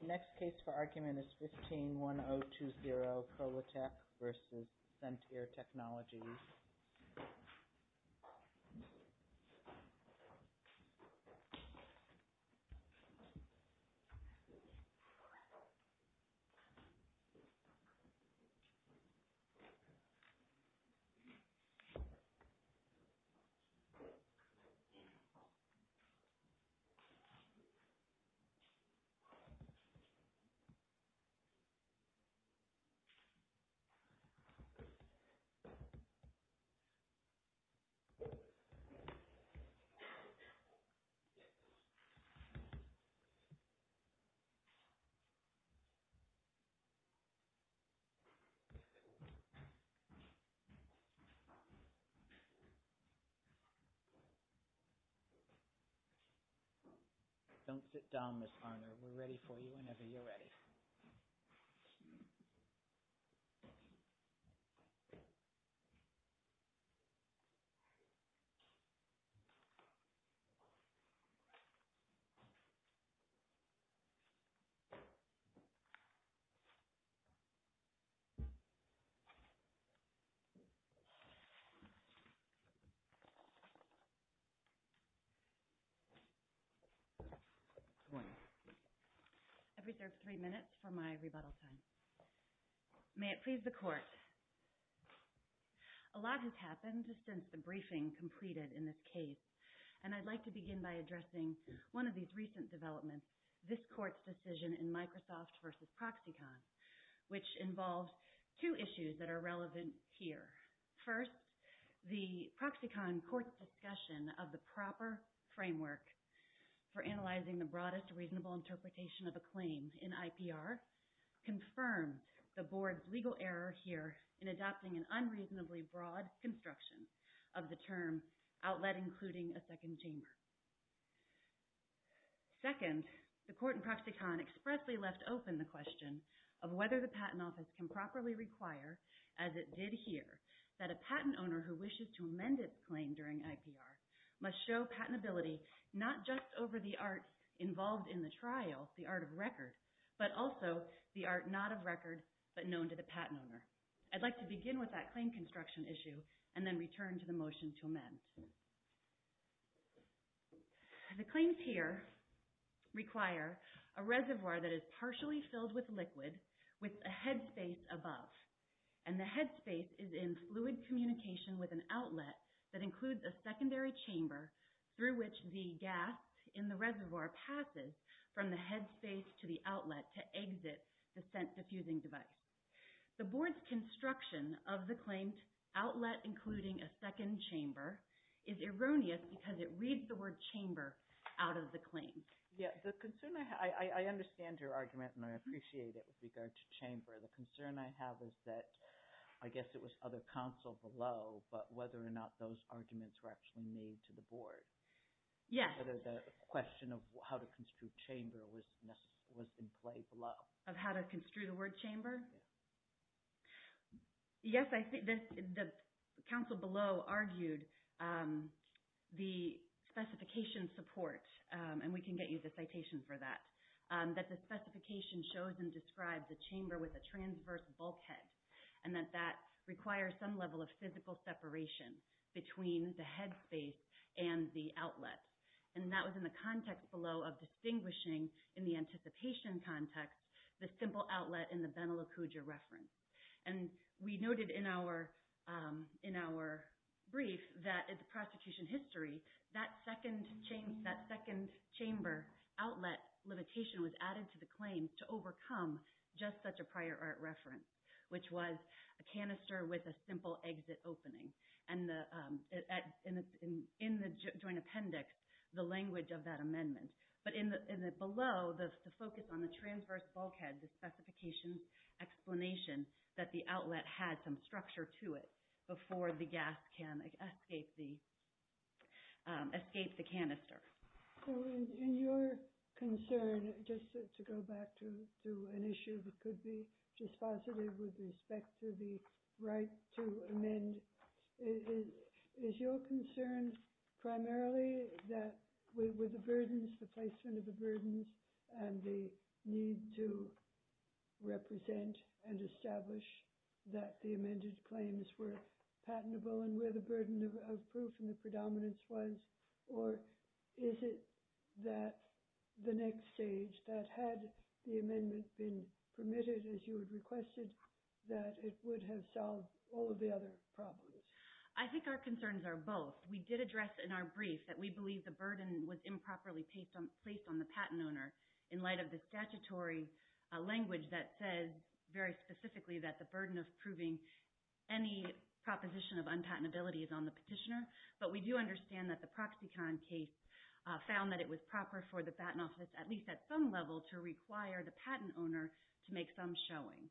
The next case for argument is 15-1020, Prolotech versus Scentier Technologies. This is 15-1020. Don't sit down, Ms. Harner, we're ready for you whenever you're ready. Good morning. I've reserved three minutes for my rebuttal time. May it please the Court. A lot has happened since the briefing completed in this case, and I'd like to begin by addressing one of these recent developments, this Court's decision in Microsoft versus Proxicon, which involves two issues that are relevant here. First, the Proxicon Court's discussion of the proper framework for analyzing the broadest reasonable interpretation of a claim in IPR confirms the Board's legal error here in adopting an unreasonably broad construction of the term outlet including a second chamber. Second, the Court in Proxicon expressly left open the question of whether the Patent Office can properly require, as it did here, that a patent owner who wishes to amend its claim during IPR must show patentability not just over the art involved in the trial, the art of record, but also the art not of record but known to the patent owner. I'd like to begin with that claim construction issue and then return to the motion to amend. The claims here require a reservoir that is partially filled with liquid with a headspace above, and the headspace is in fluid communication with an outlet that includes a secondary chamber through which the gas in the reservoir passes from the headspace to the outlet to exit the scent-diffusing device. The Board's construction of the claim, outlet including a second chamber, is erroneous because it reads the word chamber out of the claim. I understand your argument and I appreciate it with regard to chamber. The concern I have is that I guess it was other counsel below, but whether or not those arguments were actually made to the Board. Yes. Whether the question of how to construe chamber was in play below. Of how to construe the word chamber? Yes, the counsel below argued the specification support, and we can get you the citation for that, that the specification shows and describes a chamber with a transverse bulkhead and that that requires some level of physical separation between the headspace and the outlet. And that was in the context below of distinguishing in the anticipation context the simple outlet in the Benalocuja reference. And we noted in our brief that in the prosecution history, that second chamber outlet limitation was added to the claim to overcome just such a prior art reference, which was a canister with a simple exit opening. And in the joint appendix, the language of that amendment. But below, the focus on the transverse bulkhead, the specification explanation that the outlet had some structure to it before the gas can escape the canister. In your concern, just to go back to an issue that could be dispositive with respect to the right to amend, is your concern primarily that with the burdens, the placement of the burdens, and the need to represent and establish that the amended claims were patentable and where the burden of proof and the predominance was? Or is it that the next stage, that had the amendment been permitted as you had requested, that it would have solved all of the other problems? I think our concerns are both. We did address in our brief that we believe the burden was improperly placed on the patent owner in light of the statutory language that says very specifically that the burden of proving any proposition of unpatentability is on the petitioner. But we do understand that the Proxicon case found that it was proper for the patent office, at least at some level, to require the patent owner to make some showing.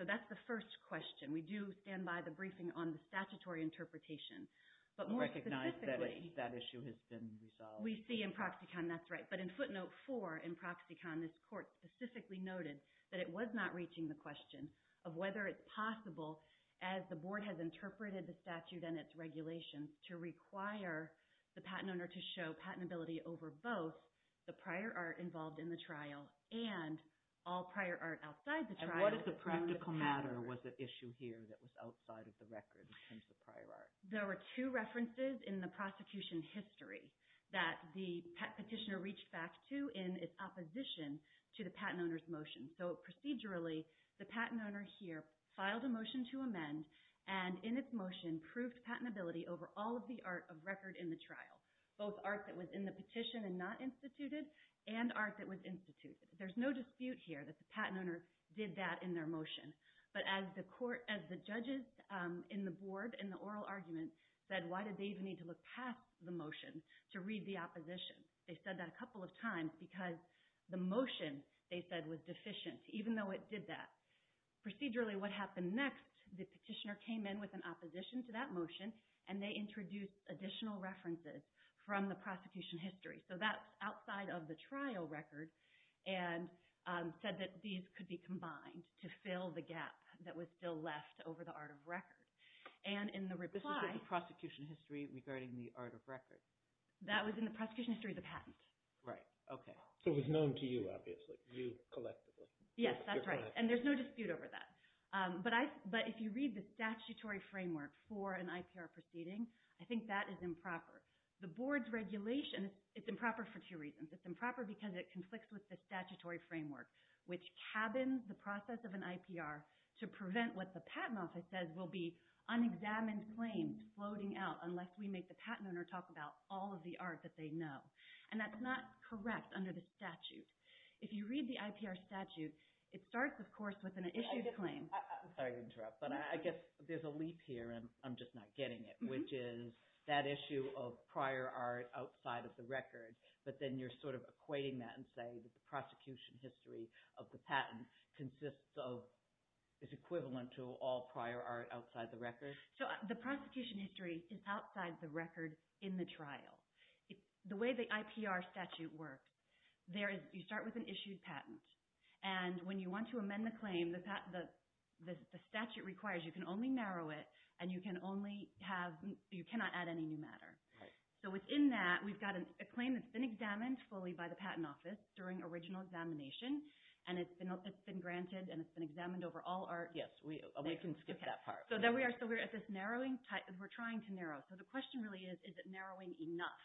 So that's the first question. We do stand by the briefing on the statutory interpretation. But more specifically, we see in Proxicon, that's right. But in footnote 4 in Proxicon, this court specifically noted that it was not reaching the question of whether it's possible, as the board has interpreted the statute and its regulations, to require the patent owner to show patentability over both the prior art involved in the trial and all prior art outside the trial. And what is the practical matter? Was it an issue here that was outside of the record in terms of prior art? There were two references in the prosecution history that the petitioner reached back to in its opposition to the patent owner's motion. So procedurally, the patent owner here filed a motion to amend and in its motion proved patentability over all of the art of record in the trial, both art that was in the petition and not instituted, and art that was instituted. There's no dispute here that the patent owner did that in their motion. But as the judges in the board in the oral argument said, why did they even need to look past the motion to read the opposition? They said that a couple of times because the motion, they said, was deficient, even though it did that. Procedurally, what happened next, the petitioner came in with an opposition to that motion and they introduced additional references from the prosecution history. So that's outside of the trial record and said that these could be combined to fill the gap that was still left over the art of record. And in the reply... This was in the prosecution history regarding the art of record. That was in the prosecution history of the patent. Right, okay. So it was known to you, obviously. You collected it. Yes, that's right. And there's no dispute over that. But if you read the statutory framework for an IPR proceeding, I think that is improper. The board's regulation is improper for two reasons. It's improper because it conflicts with the statutory framework, which cabins the process of an IPR to prevent what the patent office says will be unexamined claims floating out of all of the art that they know. And that's not correct under the statute. If you read the IPR statute, it starts, of course, with an issued claim. I'm sorry to interrupt, but I guess there's a leap here, and I'm just not getting it, which is that issue of prior art outside of the record, but then you're sort of equating that and saying that the prosecution history of the patent is equivalent to all prior art outside the record? The prosecution history is outside the record in the trial. The way the IPR statute works, you start with an issued patent, and when you want to amend the claim, the statute requires you can only narrow it, and you cannot add any new matter. So within that, we've got a claim that's been examined fully by the patent office during original examination, and it's been granted and it's been examined over all art. Yes, we can skip that part. So there we are. So we're at this narrowing. We're trying to narrow. So the question really is, is it narrowing enough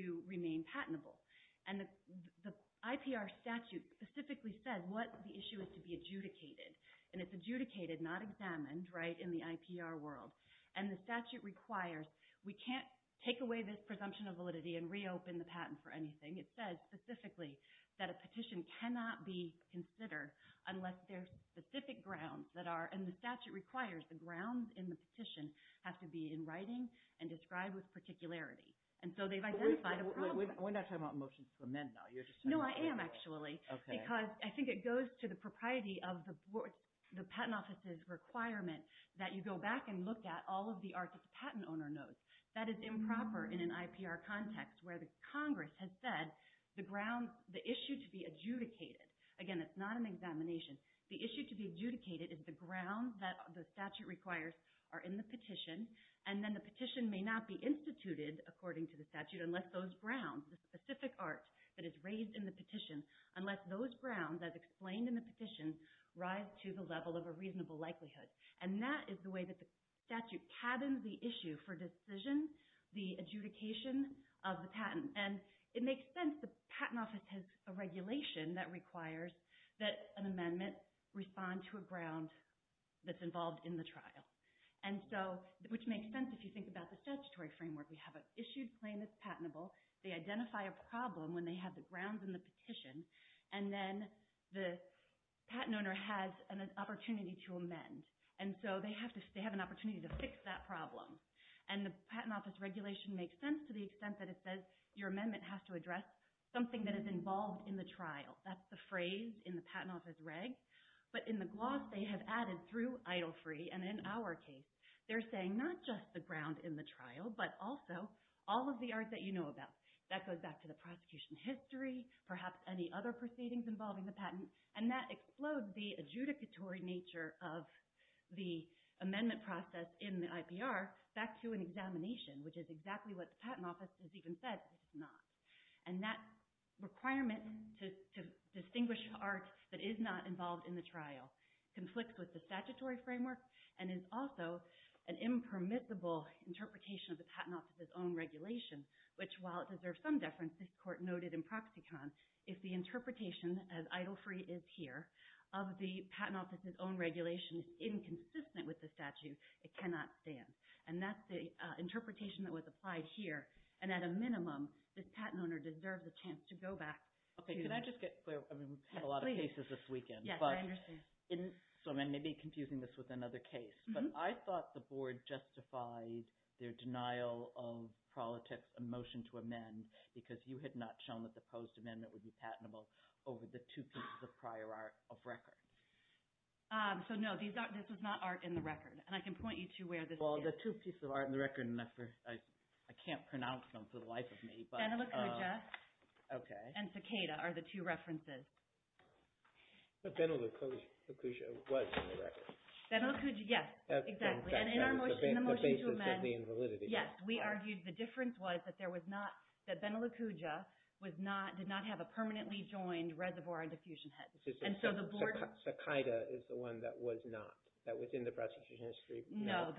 to remain patentable? And the IPR statute specifically said what the issue is to be adjudicated, and it's adjudicated, not examined, right, in the IPR world. And the statute requires we can't take away this presumption of validity and reopen the patent for anything. It says specifically that a petition cannot be considered unless there's specific grounds that are, and the statute requires the grounds in the petition have to be in writing and described with particularity. And so they've identified a problem. We're not talking about motions to amend now. No, I am, actually. Okay. Because I think it goes to the propriety of the patent office's requirement that you go back and look at all of the art that the patent owner knows. That is improper in an IPR context where the Congress has said the issue to be adjudicated, again, it's not an examination. The issue to be adjudicated is the grounds that the statute requires are in the petition, and then the petition may not be instituted, according to the statute, unless those grounds, the specific art that is raised in the petition, unless those grounds as explained in the petition rise to the level of a reasonable likelihood. And that is the way that the statute patterns the issue for decisions, the adjudication of the patent. And it makes sense the patent office has a regulation that requires that an amendment respond to a ground that's involved in the trial, which makes sense if you think about the statutory framework. We have an issued claim that's patentable. They identify a problem when they have the grounds in the petition, and then the patent owner has an opportunity to amend. And so they have an opportunity to fix that problem. And the patent office regulation makes sense to the extent that it says your amendment has to address something that is involved in the trial. That's the phrase in the patent office reg, but in the gloss they have added through idle free, and in our case, they're saying not just the ground in the trial, but also all of the art that you know about. That goes back to the prosecution history, perhaps any other proceedings involving the patent, and that explodes the adjudicatory nature of the amendment process in the IPR back to an examination, which is exactly what the patent office has even said, and that requirement to distinguish art that is not involved in the trial conflicts with the statutory framework and is also an impermissible interpretation of the patent office's own regulation, which, while it deserves some deference, this court noted in Proxicon, if the interpretation, as idle free is here, of the patent office's own regulation is inconsistent with the statute, it cannot stand. And that's the interpretation that was applied here, and at a minimum this patent owner deserves a chance to go back. Okay. Can I just get clear? We've had a lot of cases this weekend. Yes, I understand. So I may be confusing this with another case, but I thought the board justified their denial of a motion to amend because you had not shown that the proposed amendment would be patentable over the two pieces of prior art of record. So, no, this was not art in the record, and I can point you to where this is. Well, the two pieces of art in the record, and I can't pronounce them for the life of me. Benalucuja. Okay. And Cicada are the two references. But Benalucuja was in the record. Benalucuja, yes. Exactly. And in the motion to amend. The basis of the invalidity. Yes. We argued the difference was that Benalucuja did not have a permanently joined reservoir and diffusion head. Cicada is the one that was not, that was in the prosecution history. No.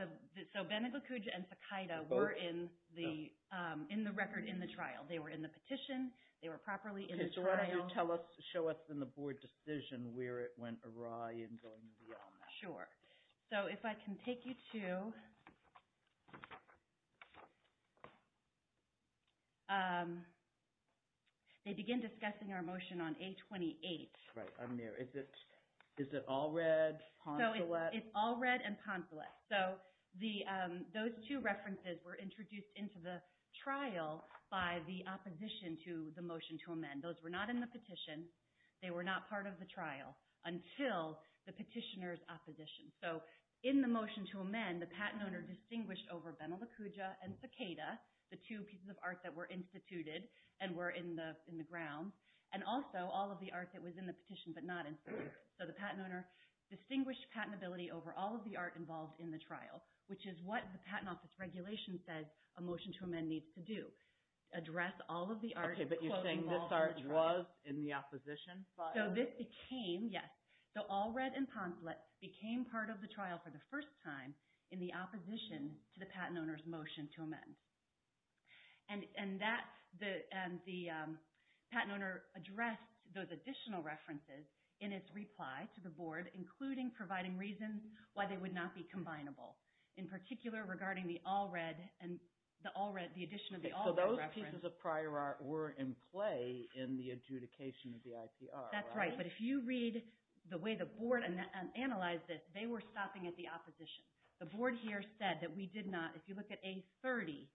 So Benalucuja and Cicada were in the record in the trial. They were in the petition. They were properly in the trial. Okay. So why don't you tell us, show us in the board decision where it went awry and going beyond that. Sure. So if I can take you to they begin discussing our motion on A28. Right. Is it all red? So it's all red and poncelet. So those two references were introduced into the trial by the opposition to the motion to amend. Those were not in the petition. They were not part of the trial until the petitioner's opposition. So in the motion to amend, the patent owner distinguished over Benalucuja and Cicada, the two pieces of art that were instituted and were in the grounds, and also all of the art that was in the petition but not instituted. So the patent owner distinguished patentability over all of the art involved in the trial, which is what the patent office regulation says a motion to amend needs to do, address all of the art. Okay. But you're saying this art was in the opposition? So this became, yes. So all red and poncelet became part of the trial for the first time in the opposition to the patent owner's motion to amend. And the patent owner addressed those additional references in its reply to the board, including providing reasons why they would not be combinable, in particular regarding the addition of the all red reference. So those pieces of prior art were in play in the adjudication of the ICR, right? That's right. But if you read the way the board analyzed this, they were stopping at the opposition. The board here said that we did not. If you look at A30,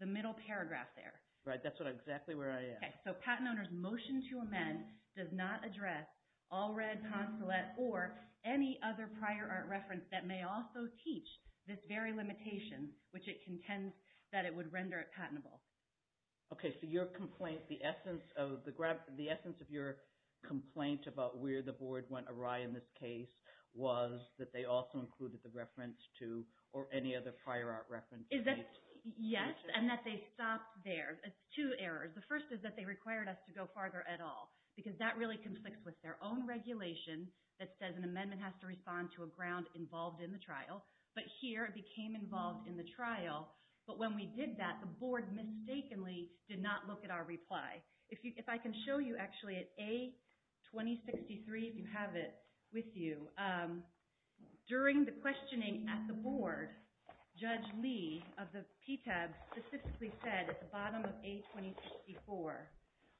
the middle paragraph there. Right. That's exactly where I am. Okay. So patent owner's motion to amend does not address all red, poncelet, or any other prior art reference that may also teach this very limitation, which it contends that it would render it patentable. Okay. So your complaint, the essence of your complaint about where the board went awry in this case was that they also included the reference to, or any other prior art reference. Yes, and that they stopped there. Two errors. The first is that they required us to go farther at all, because that really conflicts with their own regulation that says an amendment has to respond to a ground involved in the trial. But here it became involved in the trial. But when we did that, the board mistakenly did not look at our reply. If I can show you, actually, at A2063, if you have it with you. During the questioning at the board, Judge Lee of the PTAB specifically said, at the bottom of A2064,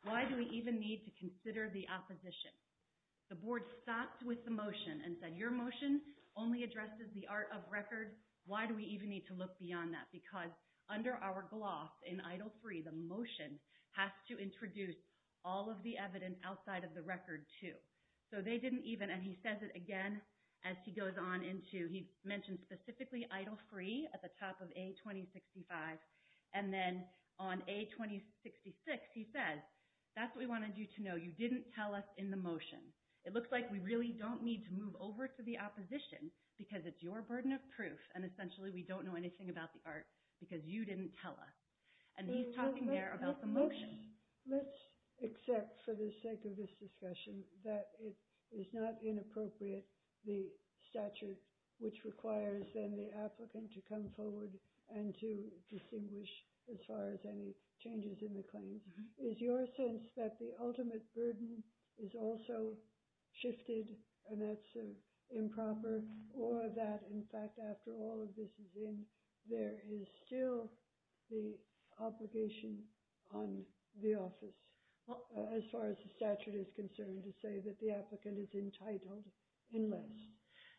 why do we even need to consider the opposition? The board stopped with the motion and said, your motion only addresses the art of record. Why do we even need to look beyond that? Because under our gloss in Idle Free, the motion has to introduce all of the evidence outside of the record too. So they didn't even, and he says it again as he goes on into, he mentions specifically Idle Free at the top of A2065, and then on A2066 he says, that's what we wanted you to know. You didn't tell us in the motion. It looks like we really don't need to move over to the opposition because it's your burden of proof, and essentially we don't know anything about the art because you didn't tell us. And he's talking there about the motion. Let's accept, for the sake of this discussion, that it is not inappropriate, the statute, which requires then the applicant to come forward and to distinguish as far as any changes in the claim. Is your sense that the ultimate burden is also shifted, and that's improper, or that, in fact, after all of this is in, there is still the obligation on the office, as far as the statute is concerned, to say that the applicant is entitled unless?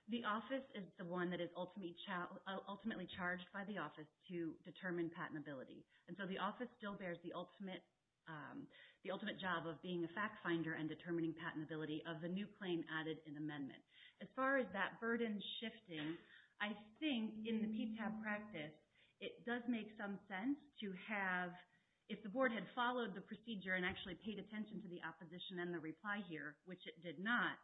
The office is the one that is ultimately charged by the office to determine patentability. And so the office still bears the ultimate job of being a fact finder and determining patentability of the new claim added in amendment. As far as that burden shifting, I think in the PTAP practice, it does make some sense to have, if the board had followed the procedure and actually paid attention to the opposition and the reply here, which it did not,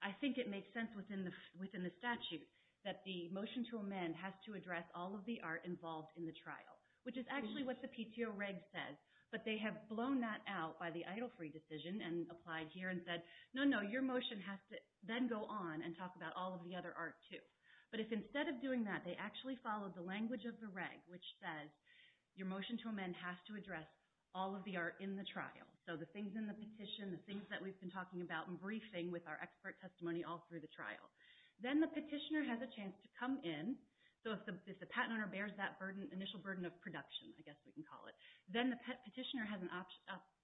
I think it makes sense within the statute that the motion to amend has to address all of the art involved in the trial, which is actually what the PTO reg says. But they have blown that out by the Eitelfree decision and applied here and said, no, no, your motion has to then go on and talk about all of the other art, too. But if instead of doing that, they actually followed the language of the reg, which says your motion to amend has to address all of the art in the trial, so the things in the petition, the things that we've been talking about in briefing with our expert testimony all through the trial. Then the petitioner has a chance to come in. So if the patent owner bears that initial burden of production, I guess we can call it, then the petitioner has an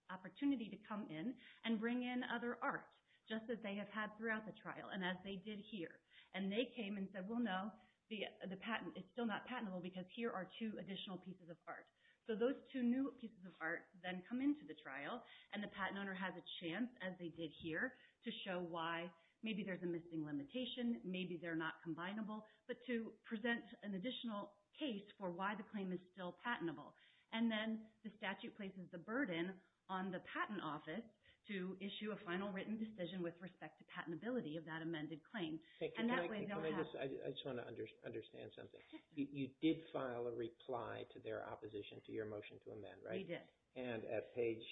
opportunity to come in and bring in other art, just as they have had throughout the trial and as they did here. And they came and said, well, no, it's still not patentable because here are two additional pieces of art. So those two new pieces of art then come into the trial and the patent owner has a chance, as they did here, to show why maybe there's a missing limitation, maybe they're not combinable, but to present an additional case for why the claim is still patentable. And then the statute places the burden on the patent office to issue a final written decision with respect to patentability of that amended claim. And that way they'll have... I just want to understand something. You did file a reply to their opposition to your motion to amend, right? We did. And at page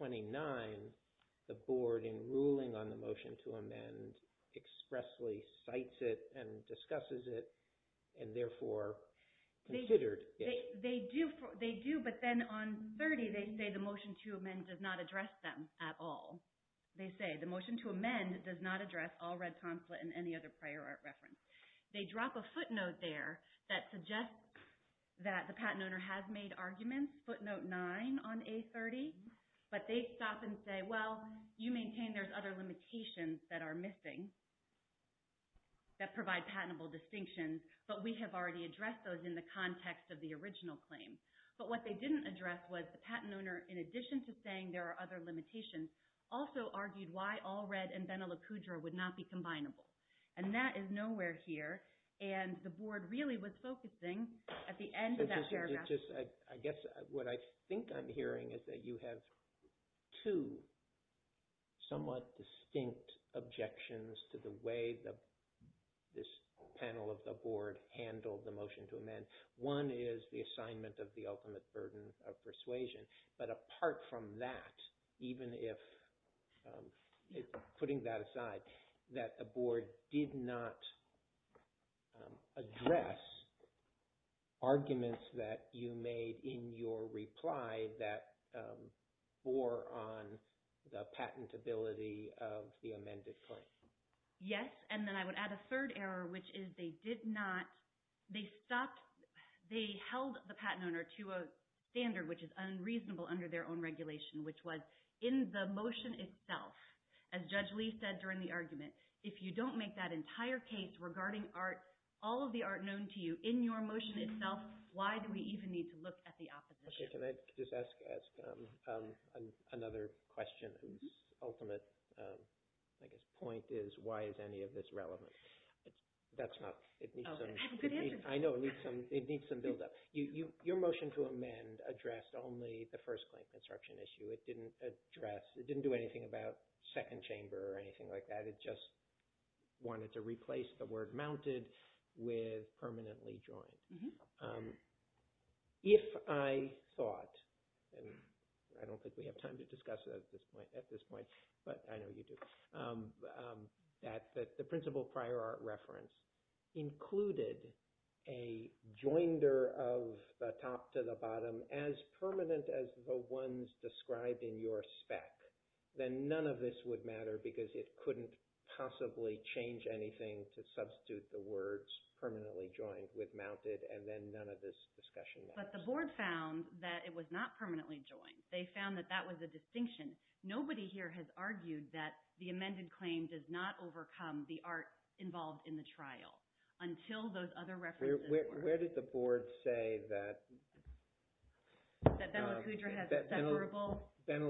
829, the board in ruling on the motion to amend expressly cites it and discusses it and therefore considered it. They do, but then on 30, they say the motion to amend does not address them at all. They say the motion to amend does not address all red consulate and any other prior art reference. They drop a footnote there that suggests that the patent owner has made arguments, footnote 9 on A30, but they stop and say, well, you maintain there's other limitations that are missing that provide patentable distinctions, but we have already addressed those in the context of the original claim. But what they didn't address was the patent owner, in addition to saying there are other limitations, also argued why all red and Benalucudra would not be combinable. And that is nowhere here. And the board really was focusing at the end of that paragraph... I guess what I think I'm hearing is that you have two somewhat distinct objections to the way this panel of the board handled the motion to amend. One is the assignment of the ultimate burden of persuasion. But apart from that, even if putting that aside, that the board did not address arguments that you made in your reply that bore on the patentability of the amended claim. Yes, and then I would add a third error, which is they did not... They held the patent owner to a standard which is unreasonable under their own regulation, which was in the motion itself, as Judge Lee said during the argument, if you don't make that entire case regarding all of the art known to you in your motion itself, why do we even need to look at the opposition? Okay, can I just ask another question whose ultimate, I guess, point is why is any of this relevant? That's not... Oh, good answer. I know, it needs some build-up. Your motion to amend addressed only the first claim construction issue. It didn't address... It didn't do anything about second chamber or anything like that. It just wanted to replace the word mounted with permanently joined. If I thought, and I don't think we have time to discuss it at this point, but I know you do, that the principle prior art reference included a joinder of the top to the bottom as permanent as the ones described in your spec, then none of this would matter because it couldn't possibly change anything to substitute the words permanently joined with mounted, and then none of this discussion matters. But the board found that it was not permanently joined. They found that that was a distinction. Nobody here has argued that the amended claim does not overcome the art involved in the trial until those other references were... Where did the board say that... That Benelicuja has a separable... top than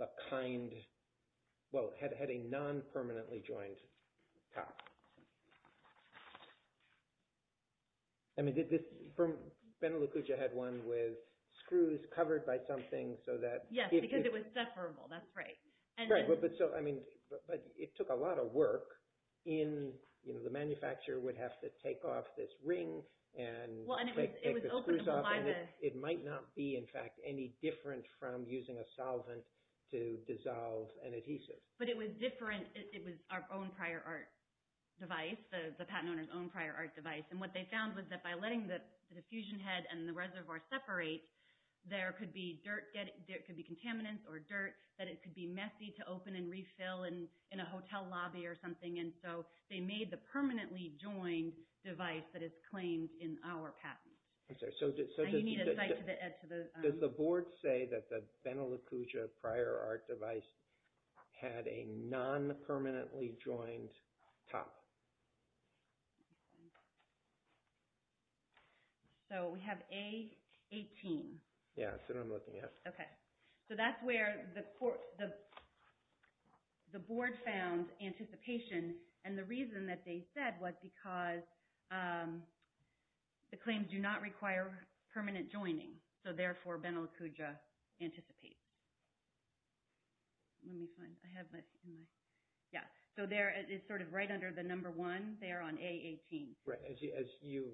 a kind... Well, it had a non-permanently joined top. Benelicuja had one with screws covered by something so that... Yes, because it was separable, that's right. Right, but it took a lot of work. The manufacturer would have to take off this ring and take the screws off, and it might not be, in fact, any different from using a solvent to dissolve an adhesive. But it was different. It was our own prior art device, the patent owner's own prior art device, and what they found was that by letting the diffusion head and the reservoir separate, there could be contaminants or dirt, that it could be messy to open and refill in a hotel lobby or something, and so they made the permanently joined device that is claimed in our patent. I'm sorry, so... You need a cite to add to the... Does the board say that the Benelicuja prior art device had a non-permanently joined top? So we have A18. Yes, that's what I'm looking at. Okay, so that's where the board found anticipation, and the reason that they said was because the claims do not require permanent joining, so therefore Benelicuja anticipates. Let me find... I have my... Yeah, so it's sort of right under the number one there on A18. As you...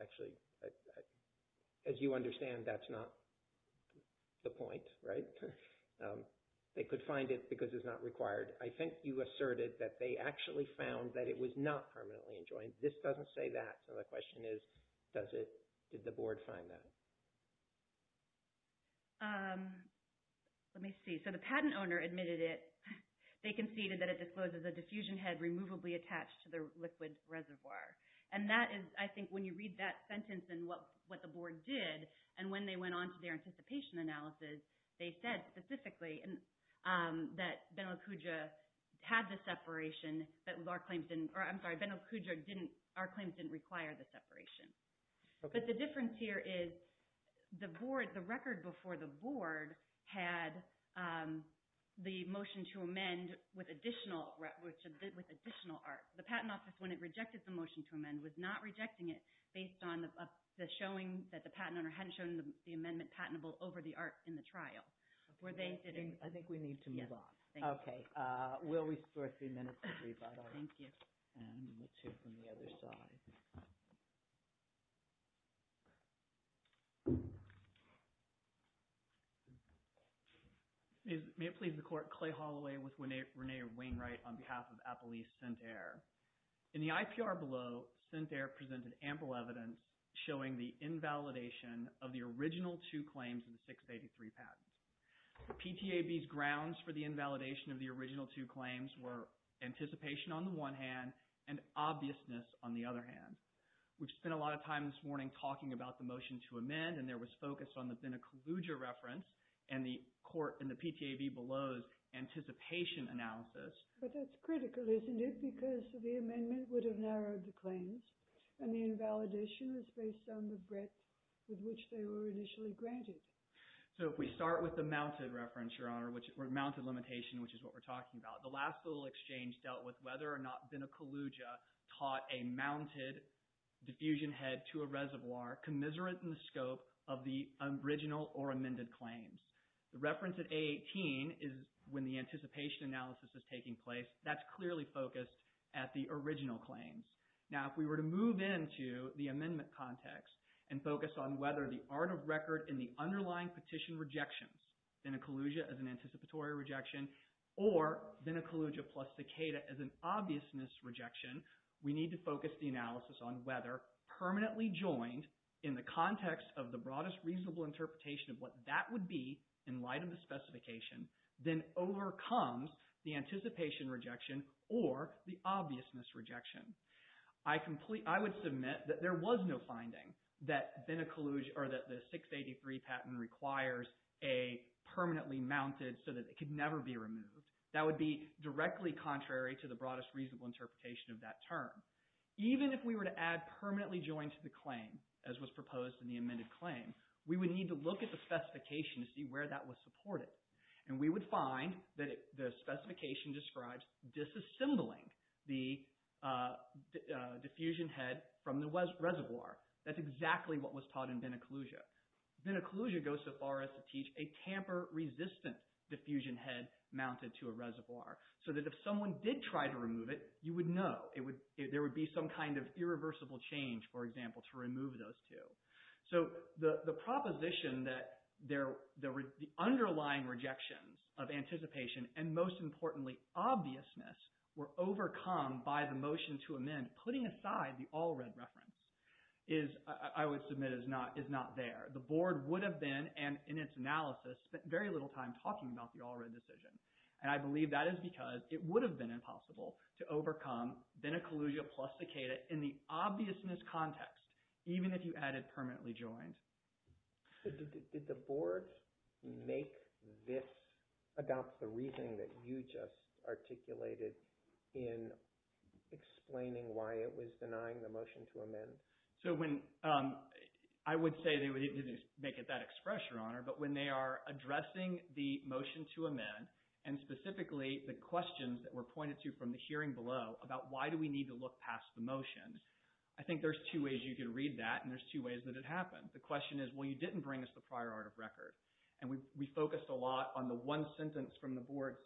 Actually, as you understand, that's not the point, right? They could find it because it's not required. I think you asserted that they actually found that it was not permanently joined. This doesn't say that, so the question is did the board find that? Let me see. So the patent owner admitted it. They conceded that it discloses a diffusion head removably attached to the liquid reservoir, and that is, I think, when you read that sentence and what the board did, and when they went on to their anticipation analysis, they said specifically that Benelicuja had the separation, but our claims didn't... I'm sorry, Benelicuja didn't... Our claims didn't require the separation, but the difference here is the record before the board had the motion to amend with additional art. The patent office, when it rejected the motion to amend, was not rejecting it based on the showing that the patent owner hadn't shown the amendment patentable over the art in the trial. Were they... I think we need to move on. Okay. We'll restore three minutes to rebuttal. Thank you. And the two from the other side. May it please the court, Clay Holloway with Rene Wainwright on behalf of Apple East Scent Air. In the IPR below, Scent Air presented ample evidence showing the invalidation of the original two claims in the 683 patent. The PTAB's grounds for the invalidation of the original two claims were anticipation on the one hand and obviousness on the other hand. We've spent a lot of time this morning talking about the motion to amend, and there was focus on the Benelicuja reference and the court in the PTAB below's anticipation analysis. But that's critical, isn't it, because the amendment would have narrowed the claims and the invalidation is based on the breadth with which they were initially granted. So if we start with the mounted reference, Your Honor, or mounted limitation, which is what we're talking about, the last little exchange dealt with whether or not Benelicuja taught a mounted diffusion head to a reservoir commiserate in the scope of the original or amended claims. The reference at A18 is when the anticipation analysis is taking place. That's clearly focused at the original claims. Now if we were to move into the amendment context and focus on whether the art of record in the underlying petition rejections, Benelicuja as an anticipatory rejection, or Benelicuja plus Takeda as an obviousness rejection, we need to focus the analysis on whether permanently joined in the context of the broadest reasonable interpretation of what that would be in light of the specification then overcomes the anticipation rejection or the obviousness rejection. I would submit that there was no finding that Benelicuja, or that the 683 patent requires a permanently mounted so that it could never be removed. That would be directly contrary to the broadest reasonable interpretation of that term. Even if we were to add permanently joined to the claim, as was proposed in the amended claim, we would need to look at the specification to see where that was supported. We would find that the specification describes disassembling the diffusion head from the reservoir. That's exactly what was taught in Benelicuja. Benelicuja goes so far as to teach a tamper resistant diffusion head mounted to a reservoir. So that if someone did try to remove it, you would know. There would be some kind of irreversible change, for example, to remove those two. So the proposition that the underlying rejection of anticipation, and most importantly, obviousness were overcome by the motion to amend, putting aside the Allred reference, I would submit is not there. The board would have been, and in its analysis, spent very little time talking about the Allred decision. And I believe that is because it would have been impossible to overcome Benelicuja plus Decatur in the obviousness context, even if you added permanently joined. Did the board make this about the reasoning that you just articulated in explaining why it was denying the motion to amend? I would say they didn't make that expression, Your Honor, but when they are addressing the motion to amend, and specifically the questions that were pointed to from the hearing below about why do we need to look past the motion, I think there's two ways you could read that, and there's two ways that it happened. The question is, well, you didn't bring us the prior art of record. And we focused a lot on the one sentence from the board's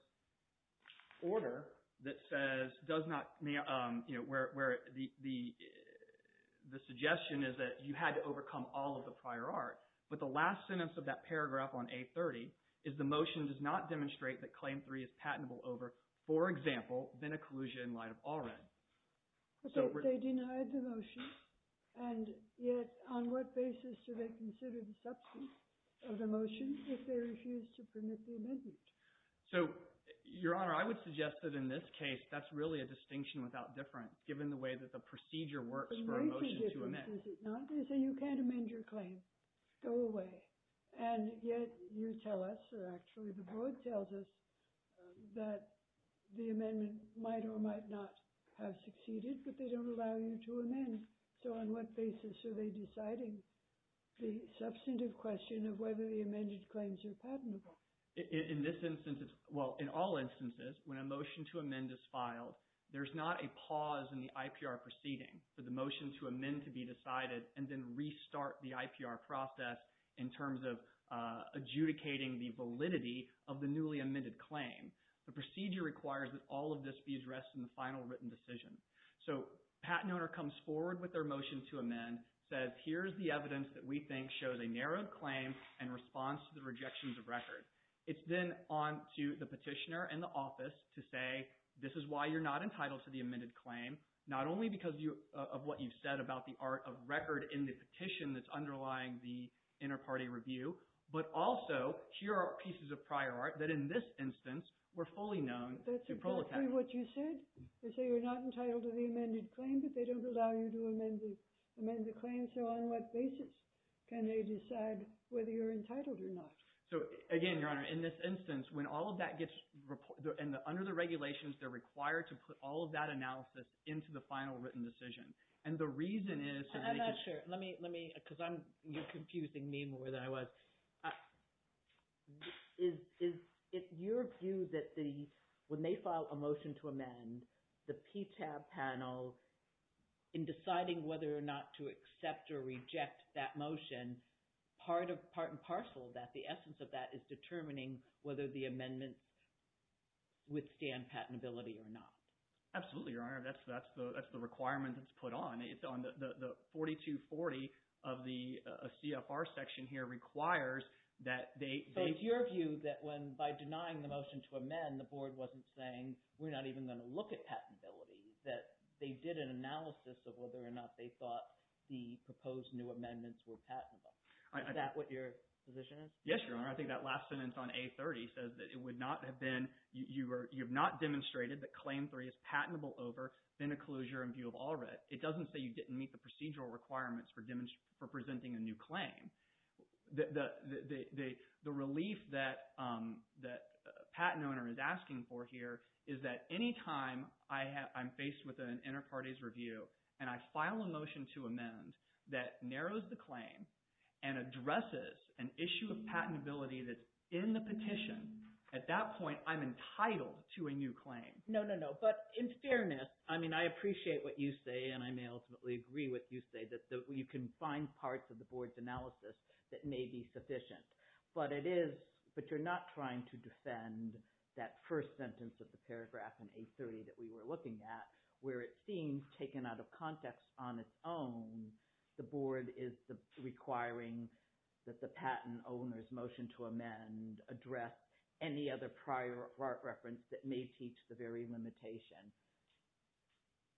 order that says, does not, where the suggestion is that you had to overcome all of the prior art. But the last sentence of that paragraph on A30 is the motion does not demonstrate that Claim 3 is patentable over, for example, Benelicuja in light of Allred. But they denied the motion, and yet on what basis do they consider the substance of the motion if they refuse to permit the amendment? So, Your Honor, I would suggest that in this case that's really a distinction without difference given the way that the procedure works for a motion to amend. They say you can't amend your claim. Go away. And yet you tell us, or actually the board tells us, that the amendment might or might not have succeeded, but they don't allow you to amend it. So on what basis are they deciding the substantive question of whether the amended claims are patentable? In this instance, well, in all instances, when a motion to amend is filed, there's not a pause in the IPR proceeding for the motion to amend to be decided and then restart the IPR process in terms of adjudicating the validity of the newly amended claim. The procedure requires that all of this be addressed in the final written decision. So patent owner comes forward with their motion to amend, says, here's the evidence that we think shows a narrowed claim in response to the rejections of record. It's then on to the petitioner and the office to say, this is why you're not entitled to the amended claim, not only because of what you've said about the art of record in the petition that's underlying the inter-party review, but also, here are pieces of prior art that in this instance were fully known to protect. That's exactly what you said. They say you're not entitled to the amended claim, but they don't allow you to amend the claim. So on what basis can they decide whether you're entitled or not? So again, Your Honor, in this instance, when all of that gets reported, and under the regulations, they're required to put all of that analysis into the final written decision. And the reason is that they just- I'm not sure. Let me, because you're confusing me more than I was. Is it your view that when they file a motion to amend, the PTAB panel, in deciding whether or not to accept or reject that motion, part and parcel of that, the essence of that, is determining whether the amendments withstand patentability or not? Absolutely, Your Honor. That's the requirement that's put on. The 4240 of the CFR section here requires that they- So it's your view that when, by denying the motion to amend, the board wasn't saying, we're not even going to look at patentability. That they did an analysis of whether or not they thought the proposed new amendments were patentable. Is that what your position is? Yes, Your Honor. I think that last sentence on A30 says that it would not have been- you have not demonstrated that Claim 3 is patentable over Finna closure in view of all writ. It doesn't say you didn't meet the procedural requirements for presenting a new claim. The relief that the patent owner is asking for here is that any time I'm faced with an inter-parties review and I file a motion to amend that narrows the claim and addresses an issue of patentability that's in the petition, at that point, I'm entitled to a new claim. No, no, no. But in fairness, I mean, I appreciate what you say and I may ultimately agree with you say that you can find parts of the board's analysis that may be sufficient. But it is- but you're not trying to defend that first sentence of the paragraph in A30 that we were looking at where it seems, taken out of context on its own, the board is requiring that the patent owner's motion to amend address any other prior reference that may teach the very limitation.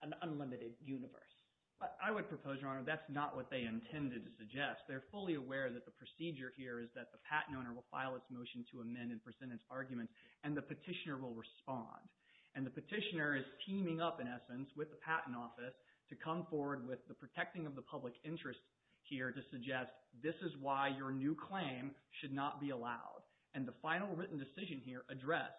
An unlimited universe. But I would propose, Your Honor, that's not what they intended to suggest. They're fully aware that the procedure here is that the patent owner will file its motion to amend and present its argument and the petitioner will respond. And the petitioner is teaming up, in essence, with the patent office to come forward with the protecting of the public interest here to suggest this is why your new claim should not be allowed. And the final written decision here would address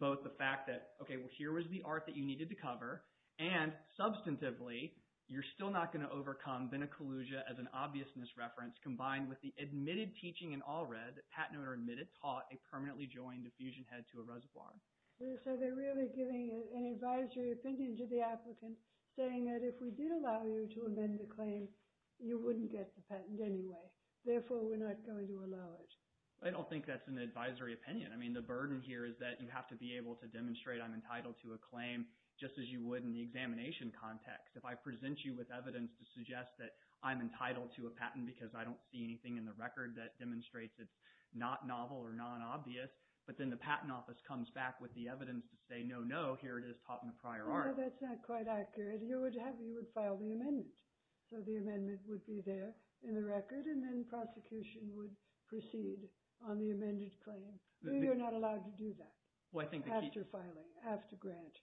both the fact that, okay, well, here was the art that you needed to cover, and, substantively, you're still not going to overcome then a collusion as an obvious misreference combined with the admitted teaching in all red that patent owner admitted taught a permanently joined diffusion head to a reservoir. So they're really giving an advisory opinion to the applicant saying that if we did allow you to amend the claim, you wouldn't get the patent anyway. Therefore, we're not going to allow it. I don't think that's an advisory opinion. I mean, the burden here is that you have to be able to demonstrate I'm entitled to a claim just as you would in the examination context. If I present you with evidence to suggest that I'm entitled to a patent because I don't see anything in the record that demonstrates it's not novel or non-obvious, but then the patent office comes back with the evidence to say, no, no, here it is taught in the prior art. No, that's not quite accurate. You would file the amendment. So the amendment would be there in the record, and then prosecution would proceed on the amended claim. You're not allowed to do that after filing, after grant.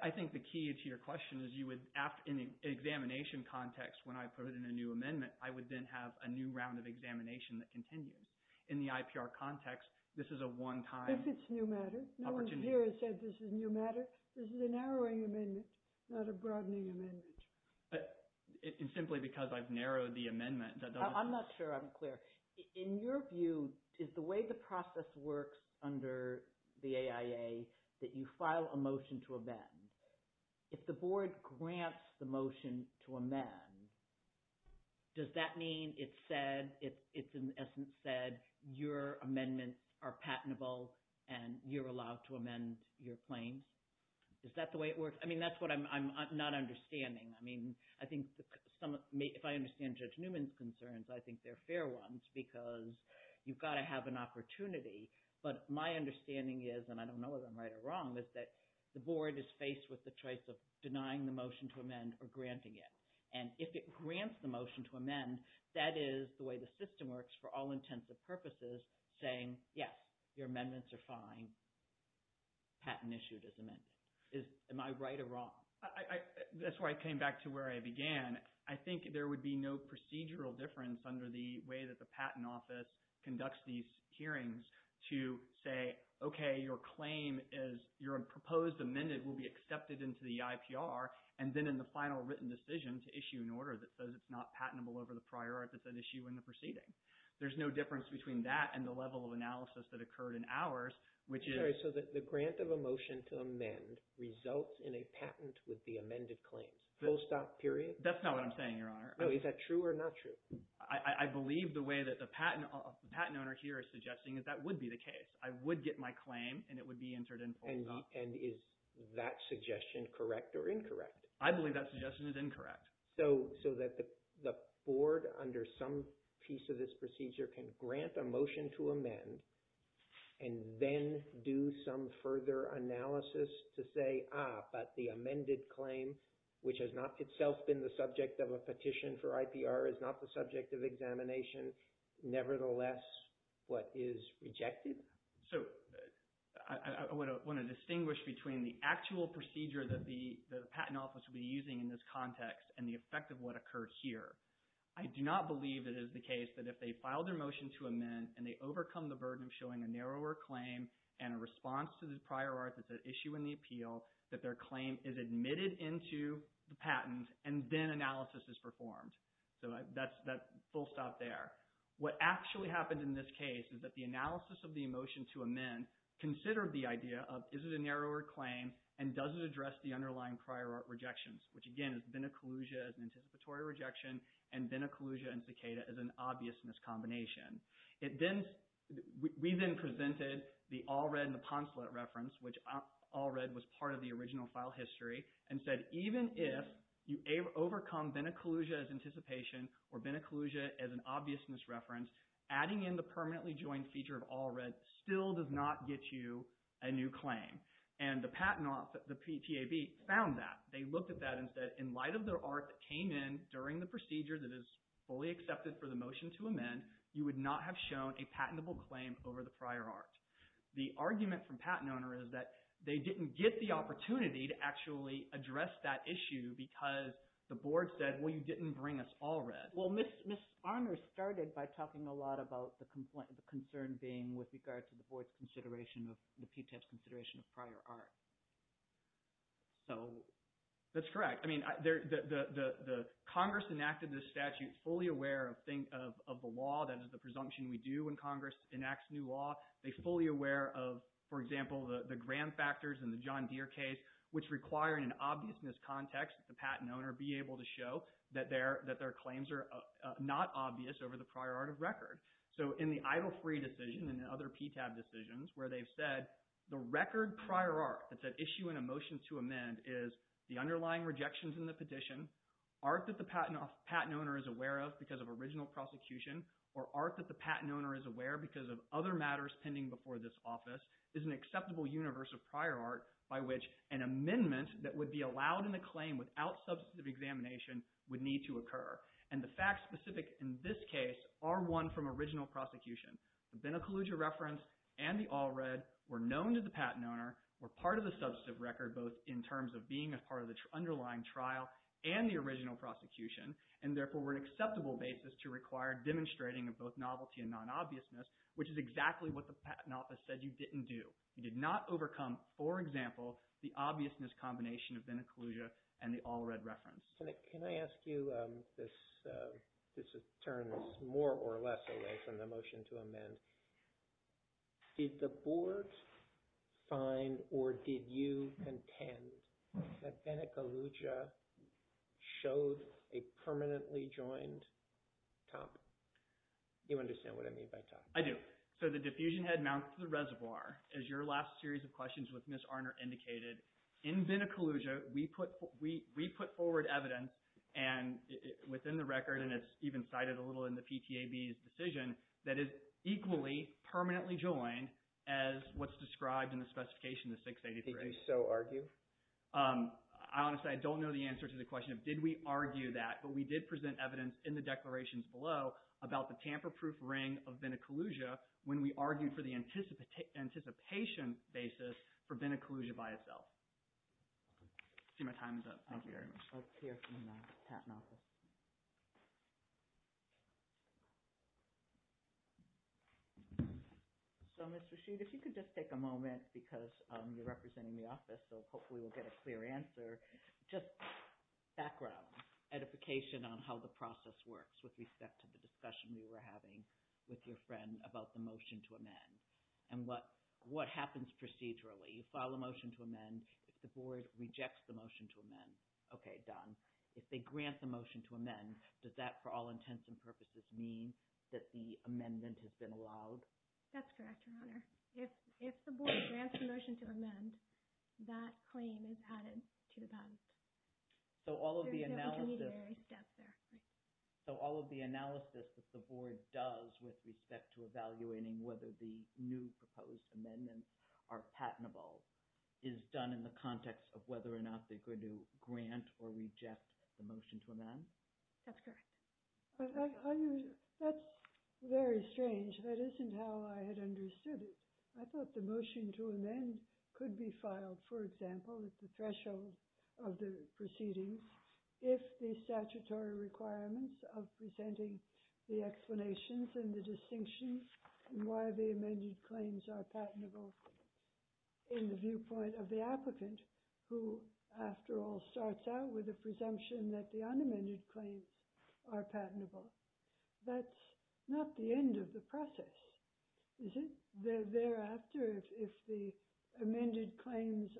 I think the key to your question is you would, in the examination context, when I put in a new amendment, I would then have a new round of examination that continues. In the IPR context, this is a one-time opportunity. If it's new matter. No one here has said this is new matter. This is a narrowing amendment, not a broadening amendment. Simply because I've narrowed the amendment. I'm not sure I'm clear. In your view, is the way the process works under the AIA that you file a motion to amend, if the board grants the motion to amend, does that mean it's said, it's in essence said, your amendments are patentable and you're allowed to amend your claim? Is that the way it works? I mean, that's what I'm not understanding. I mean, I think if I understand Judge Newman's concerns, I think they're fair ones because you've got to have an opportunity. But my understanding is, and I don't know if I'm right or wrong, is that the board is faced with the choice of denying the motion to amend or granting it. And if it grants the motion to amend, that is the way the system works for all intents and purposes, saying, yes, your amendments are fine, patent issued as amended. Am I right or wrong? That's where I came back to where I began. I think there would be no procedural difference under the way that the patent office conducts these hearings to say, okay, your claim is, your proposed amended will be accepted into the IPR and then in the final written decision to issue an order that says it's not patentable over the prior art that's at issue in the proceeding. There's no difference between that and the level of analysis that occurred in ours, which is- Sorry, so the grant of a motion to amend results in a patent with the amended claim, post-op period? That's not what I'm saying, Your Honor. No, is that true or not true? I believe the way that the patent owner here is suggesting is that would be the case. I would get my claim and it would be entered in post-op. And is that suggestion correct or incorrect? I believe that suggestion is incorrect. So that the board, under some piece of this procedure, can grant a motion to amend and then do some further analysis to say, ah, but the amended claim, which has not itself been the subject of a petition for IPR, is not the subject of examination. Nevertheless, what is rejected? So I want to distinguish between the actual procedure that the patent office will be using in this context and the effect of what occurred here. I do not believe it is the case that if they file their motion to amend and they overcome the burden of showing a narrower claim and a response to the prior art that's at issue in the appeal, that their claim is admitted into the patent and then analysis is performed. So that's full stop there. What actually happened in this case is that the analysis of the motion to amend considered the idea of is it a narrower claim and does it address the underlying prior art rejections, which, again, is then a collusion, an anticipatory rejection, and then a collusion and cicada as an obvious miscombination. We then presented the Allred and the Poncelet reference, which Allred was part of the original file history, and said even if you overcome then a collusion as anticipation or then a collusion as an obvious misreference, adding in the permanently joined feature of Allred still does not get you a new claim. And the patent office, the PTAB, found that. They looked at that and said in light of the art that came in during the procedure that is fully accepted for the motion to amend, you would not have shown a patentable claim over the prior art. The argument from PatentOwner is that they didn't get the opportunity to actually address that issue because the board said, well, you didn't bring us Allred. Well, Ms. Armour started by talking a lot about the concern being with regards to the board's consideration of, the PTAB's consideration of prior art. So that's correct. I mean, the Congress enacted this statute fully aware of the law. That is the presumption we do when Congress enacts new law. They're fully aware of, for example, the grand factors in the John Deere case, which require in an obvious miscontext that the patent owner be able to show that their claims are not obvious over the prior art of record. So in the Idle Free decision and the other PTAB decisions where they've said the record prior art that's at issue in a motion to amend is the underlying rejections in the petition, art that the patent owner is aware of because of original prosecution, or art that the patent owner is aware of because of other matters pending before this office, is an acceptable universe of prior art by which an amendment that would be allowed in a claim without substantive examination would need to occur. And the facts specific in this case are one from original prosecution. The Benacaluja reference and the Allred were known to the patent owner, were part of the substantive record, both in terms of being a part of the underlying trial and the original prosecution, and therefore were an acceptable basis to require demonstrating of both novelty and non-obviousness, which is exactly what the patent office said you didn't do. You did not overcome, for example, the obviousness combination of Benacaluja and the Allred reference. Can I ask you, this turns more or less away from the motion to amend. Did the board find or did you contend that Benacaluja showed a permanently joined top? Do you understand what I mean by top? I do. So the diffusion head mounts to the reservoir. As your last series of questions with Ms. Arner indicated, in Benacaluja, we put forward evidence, and within the record, and it's even cited a little in the PTAB's decision, that it's equally permanently joined as what's described in the specification, the 683. Did you so argue? Honestly, I don't know the answer to the question of did we argue that, but we did present evidence in the declarations below about the tamper-proof ring of Benacaluja when we argued for the anticipation basis for Benacaluja by itself. I see my time is up. Thank you very much. Okay. Let's hear from the patent office. So, Mr. Sheet, if you could just take a moment because you're representing the office, so hopefully we'll get a clear answer. Just background edification on how the process works with respect to the discussion we were having with your friend about the motion to amend and what happens procedurally. You file a motion to amend. If the board rejects the motion to amend, okay, done. If they grant the motion to amend, does that, for all intents and purposes, mean that the amendment has been allowed? That's correct, Your Honor. If the board grants the motion to amend, that claim is added to the patent. So all of the analysis that the board does with respect to evaluating whether the new proposed amendments are patentable is done in the context of whether or not they're going to grant or reject the motion to amend? That's correct. That's very strange. That isn't how I had understood it. I thought the motion to amend could be filed, for example, at the threshold of the proceedings if the statutory requirements of presenting the explanations and the distinctions and why the amended claims are patentable in the viewpoint of the applicant, who, after all, starts out with the presumption that the unamended claims are patentable. That's not the end of the process, is it? Thereafter, if the amended claims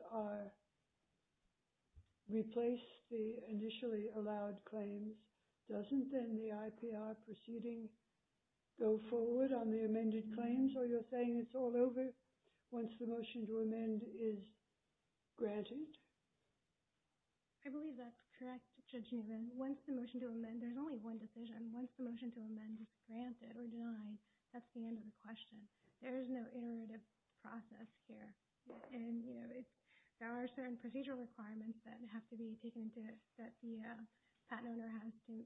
replace the initially allowed claims, doesn't then the IPR proceeding go forward on the amended claims? Are you saying it's all over once the motion to amend is granted? I believe that's correct, Judge Newman. Once the motion to amend, there's only one decision. Once the motion to amend is granted or denied, that's the end of the question. There is no iterative process here. There are certain procedural requirements that have to be taken into account that the patent owner has to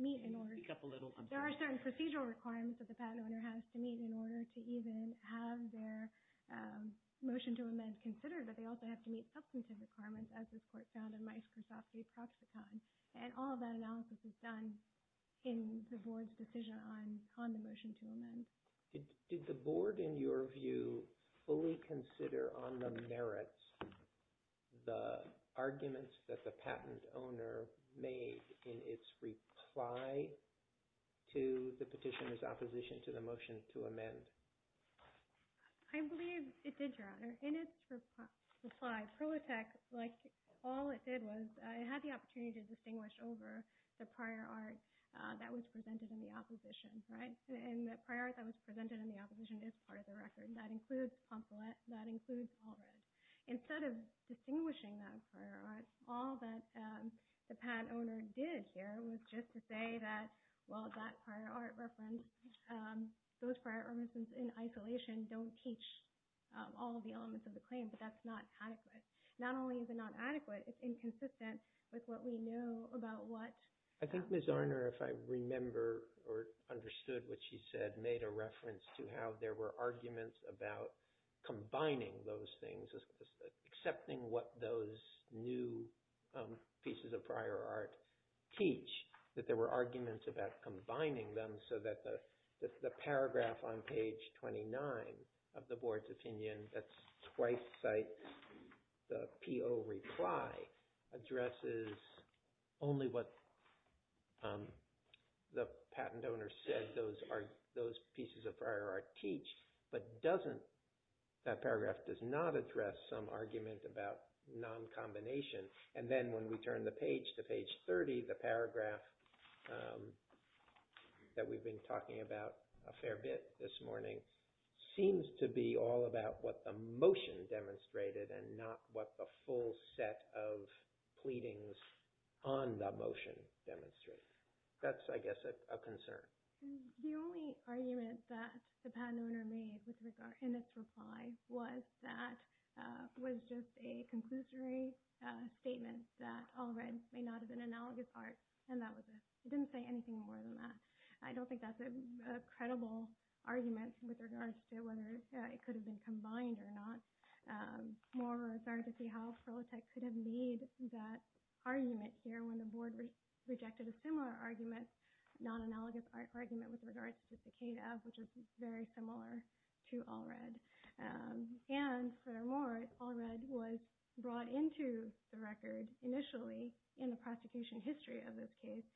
meet in order to even have their motion to amend considered, but they also have to meet substantive requirements as was put down in Mike Krasofsky's tospicon. And all of that analysis is done in the board's decision on the motion to amend. Did the board, in your view, fully consider on the merits the arguments that the patent owner made in its reply to the petitioner's opposition to the motion to amend? I believe it did, Your Honor. In its reply, ProTec, all it did was it had the opportunity to distinguish over the prior art that was presented in the opposition, right? And the prior art that was presented in the opposition is part of the record. That includes pamphlet. That includes all of it. Instead of distinguishing that prior art, all that the patent owner did here was just to say that, well, that prior art reference, those prior art references in isolation don't teach all of the elements of the claim, but that's not adequate. Not only is it not adequate, it's inconsistent with what we know about what... I think Ms. Arner, if I remember or understood what she said, made a reference to how there were arguments about combining those things, accepting what those new pieces of prior art teach, that there were arguments about combining them so that the paragraph on page 29 of the board's opinion, that's twice the PO reply, addresses only what the patent owner said those pieces of prior art teach, but that paragraph does not address some argument about non-combination. And then when we turn the page to page 30, the paragraph that we've been talking about a fair bit this morning seems to be all about what the motion demonstrated and not what the full set of pleadings on the motion demonstrated. That's, I guess, a concern. The only argument that the patent owner made with regard to this reply was that it was just a conclusory statement that All Reds may not have been analogous art, and that was it. It didn't say anything more than that. I don't think that's a credible argument, with regards to whether it could have been combined or not. More of a, sorry to say, how Solotek could have made that argument here when the board rejected a similar argument, non-analogous art argument with regards to Cicada, which is very similar to All Reds. And furthermore, All Reds was brought into the record initially in the prosecution history of this case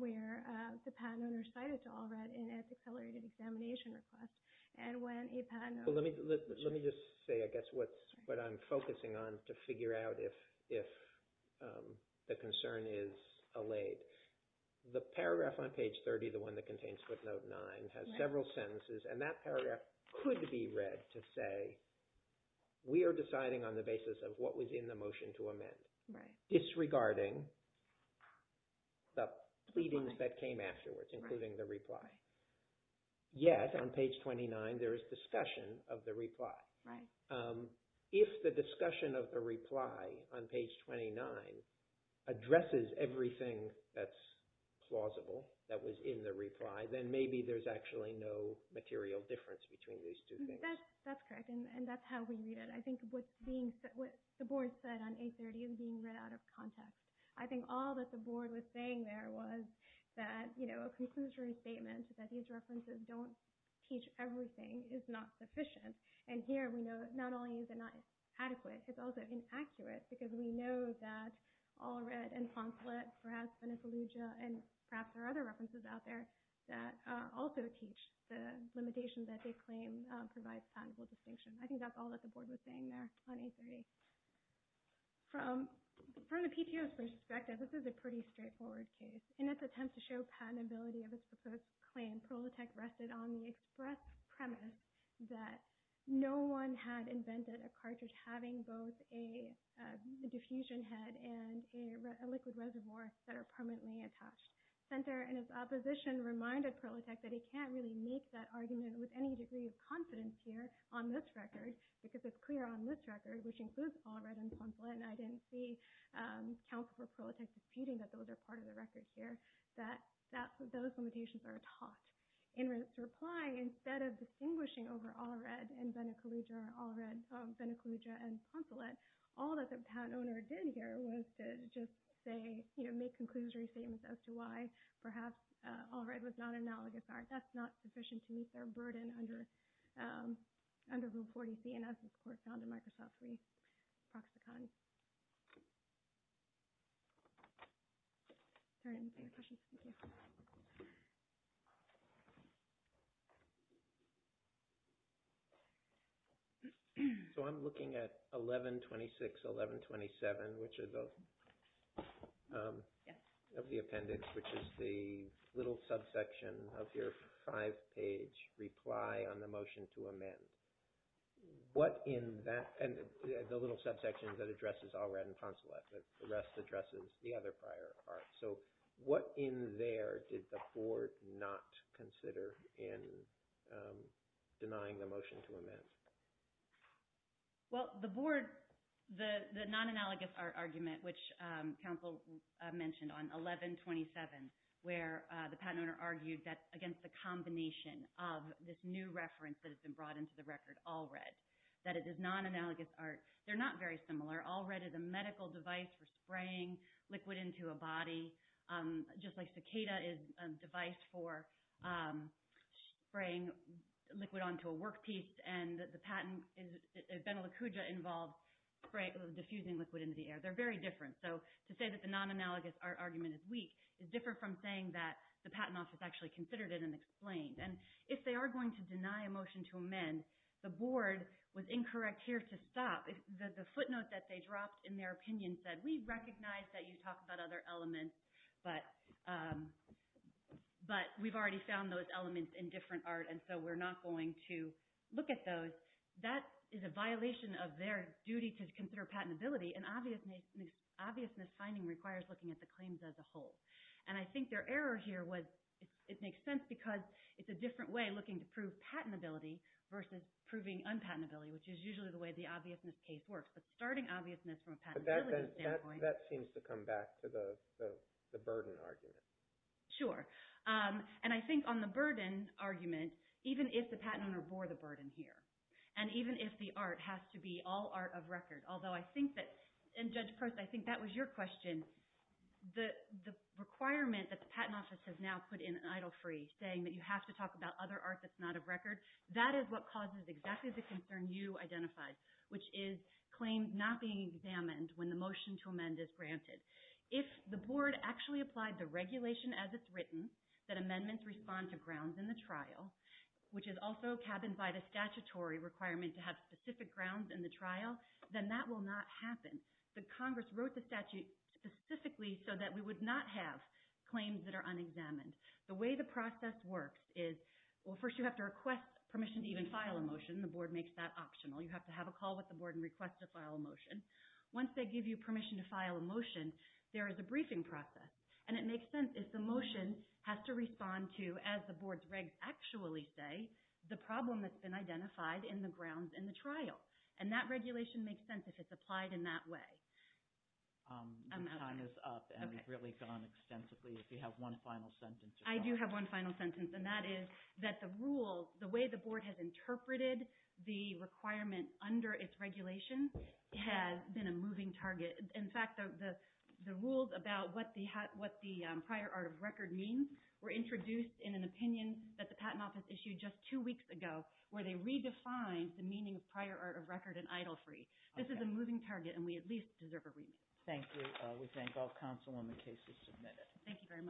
where the patent owner cited to All Reds an anticolorated examination request. And when a patent owner... Let me just say, I guess, what I'm focusing on to figure out if the concern is allayed. The paragraph on page 30, the one that contains footnote 9, has several sentences, and that paragraph could be read to say, we are deciding on the basis of what was in the motion to amend, disregarding the pleadings that came afterwards, including the reply. Yet, on page 29, there is discussion of the reply. If the discussion of the reply on page 29 addresses everything that's plausible that was in the reply, then maybe there's actually no material difference between these two things. That's correct, and that's how we read it. I think what the board said on page 30 is being read out of context. I think all that the board was saying there was that a conclusory statement that these references don't teach everything is not sufficient. And here, we know that not only is it not adequate, it's also inaccurate, because we know that All Red and Consulate, perhaps Venicelugia, and perhaps there are other references out there that also teach the limitation that they claim provides patentable distinction. I think that's all that the board was saying there on page 30. From the PTO's perspective, this is a pretty straightforward case. In its attempt to show patentability of its proposed claim, Prolitech rested on the express premise that no one had invented a cartridge having both a diffusion head and a liquid reservoir that are permanently attached. Senter and his opposition reminded Prolitech that he can't really make that argument with any degree of confidence here on this record, because it's clear on this record, which includes All Red and Consulate, and I didn't see counsel for Prolitech disputing that those are part of the record here, that those limitations are taught. In reply, instead of distinguishing over All Red and Venicelugia and Consulate, all that the patent owner did here was to just make conclusory statements as to why perhaps All Red was not analogous. That's not sufficient to meet their burden under the reporting CNS report down to Microsoft 365. So I'm looking at 1126, 1127, which are the appendix, which is the little subsection of your five-page reply on the motion to amend. What in that, and the little subsection that addresses All Red and Consulate, but the rest addresses the other prior part. So what in there did the board not consider in denying the motion to amend? Well, the board, the non-analogous argument, which counsel mentioned on 1127, where the patent owner argued that against the combination of this new reference that has been brought into the record, All Red, that it is non-analogous art. They're not very similar. All Red is a medical device for spraying liquid into a body, just like Cicada is a device for spraying liquid onto a workpiece, and the patent, Venelicugia involves diffusing liquid into the air. They're very different. So to say that the non-analogous art argument is weak is different from saying that the patent office actually considered it and explained. And if they are going to deny a motion to amend, the board was incorrect here to stop. The footnote that they dropped in their opinion said, we recognize that you talk about other elements, but we've already found those elements in different art, and so we're not going to look at those. That is a violation of their duty to consider patentability, and obviousness finding requires looking at the claims as a whole. And I think their error here was, it makes sense because it's a different way looking to prove patentability versus proving unpatentability, which is usually the way the obviousness case works. But starting obviousness from a patentability standpoint... That seems to come back to the burden argument. Sure. And I think on the burden argument, even if the patent owner bore the burden here, and even if the art has to be all art of record, although I think that... And Judge Prost, I think that was your question. The requirement that the Patent Office has now put in an idle free, saying that you have to talk about other art that's not of record, that is what causes exactly the concern you identified, which is claims not being examined when the motion to amend is granted. If the board actually applied the regulation as it's written, that amendments respond to grounds in the trial, which is also cabined by the statutory requirement to have specific grounds in the trial, then that will not happen. But Congress wrote the statute specifically so that we would not have claims that are unexamined. The way the process works is, well, first you have to request permission to even file a motion. The board makes that optional. You have to have a call with the board and request to file a motion. Once they give you permission to file a motion, there is a briefing process. And it makes sense if the motion has to respond to, as the board's regs actually say, the problem that's been identified in the grounds in the trial. And that regulation makes sense if it's applied in that way. The time is up, and we've really gone extensively. If you have one final sentence. I do have one final sentence, and that is that the rules, the way the board has interpreted the requirement under its regulations has been a moving target. In fact, the rules about what the prior art of record means were introduced in an opinion that the Patent Office issued just two weeks ago where they redefined the meaning of prior art of record in idle free. This is a moving target, and we at least deserve a remit. Thank you. We thank all counsel on the cases submitted. Thank you very much.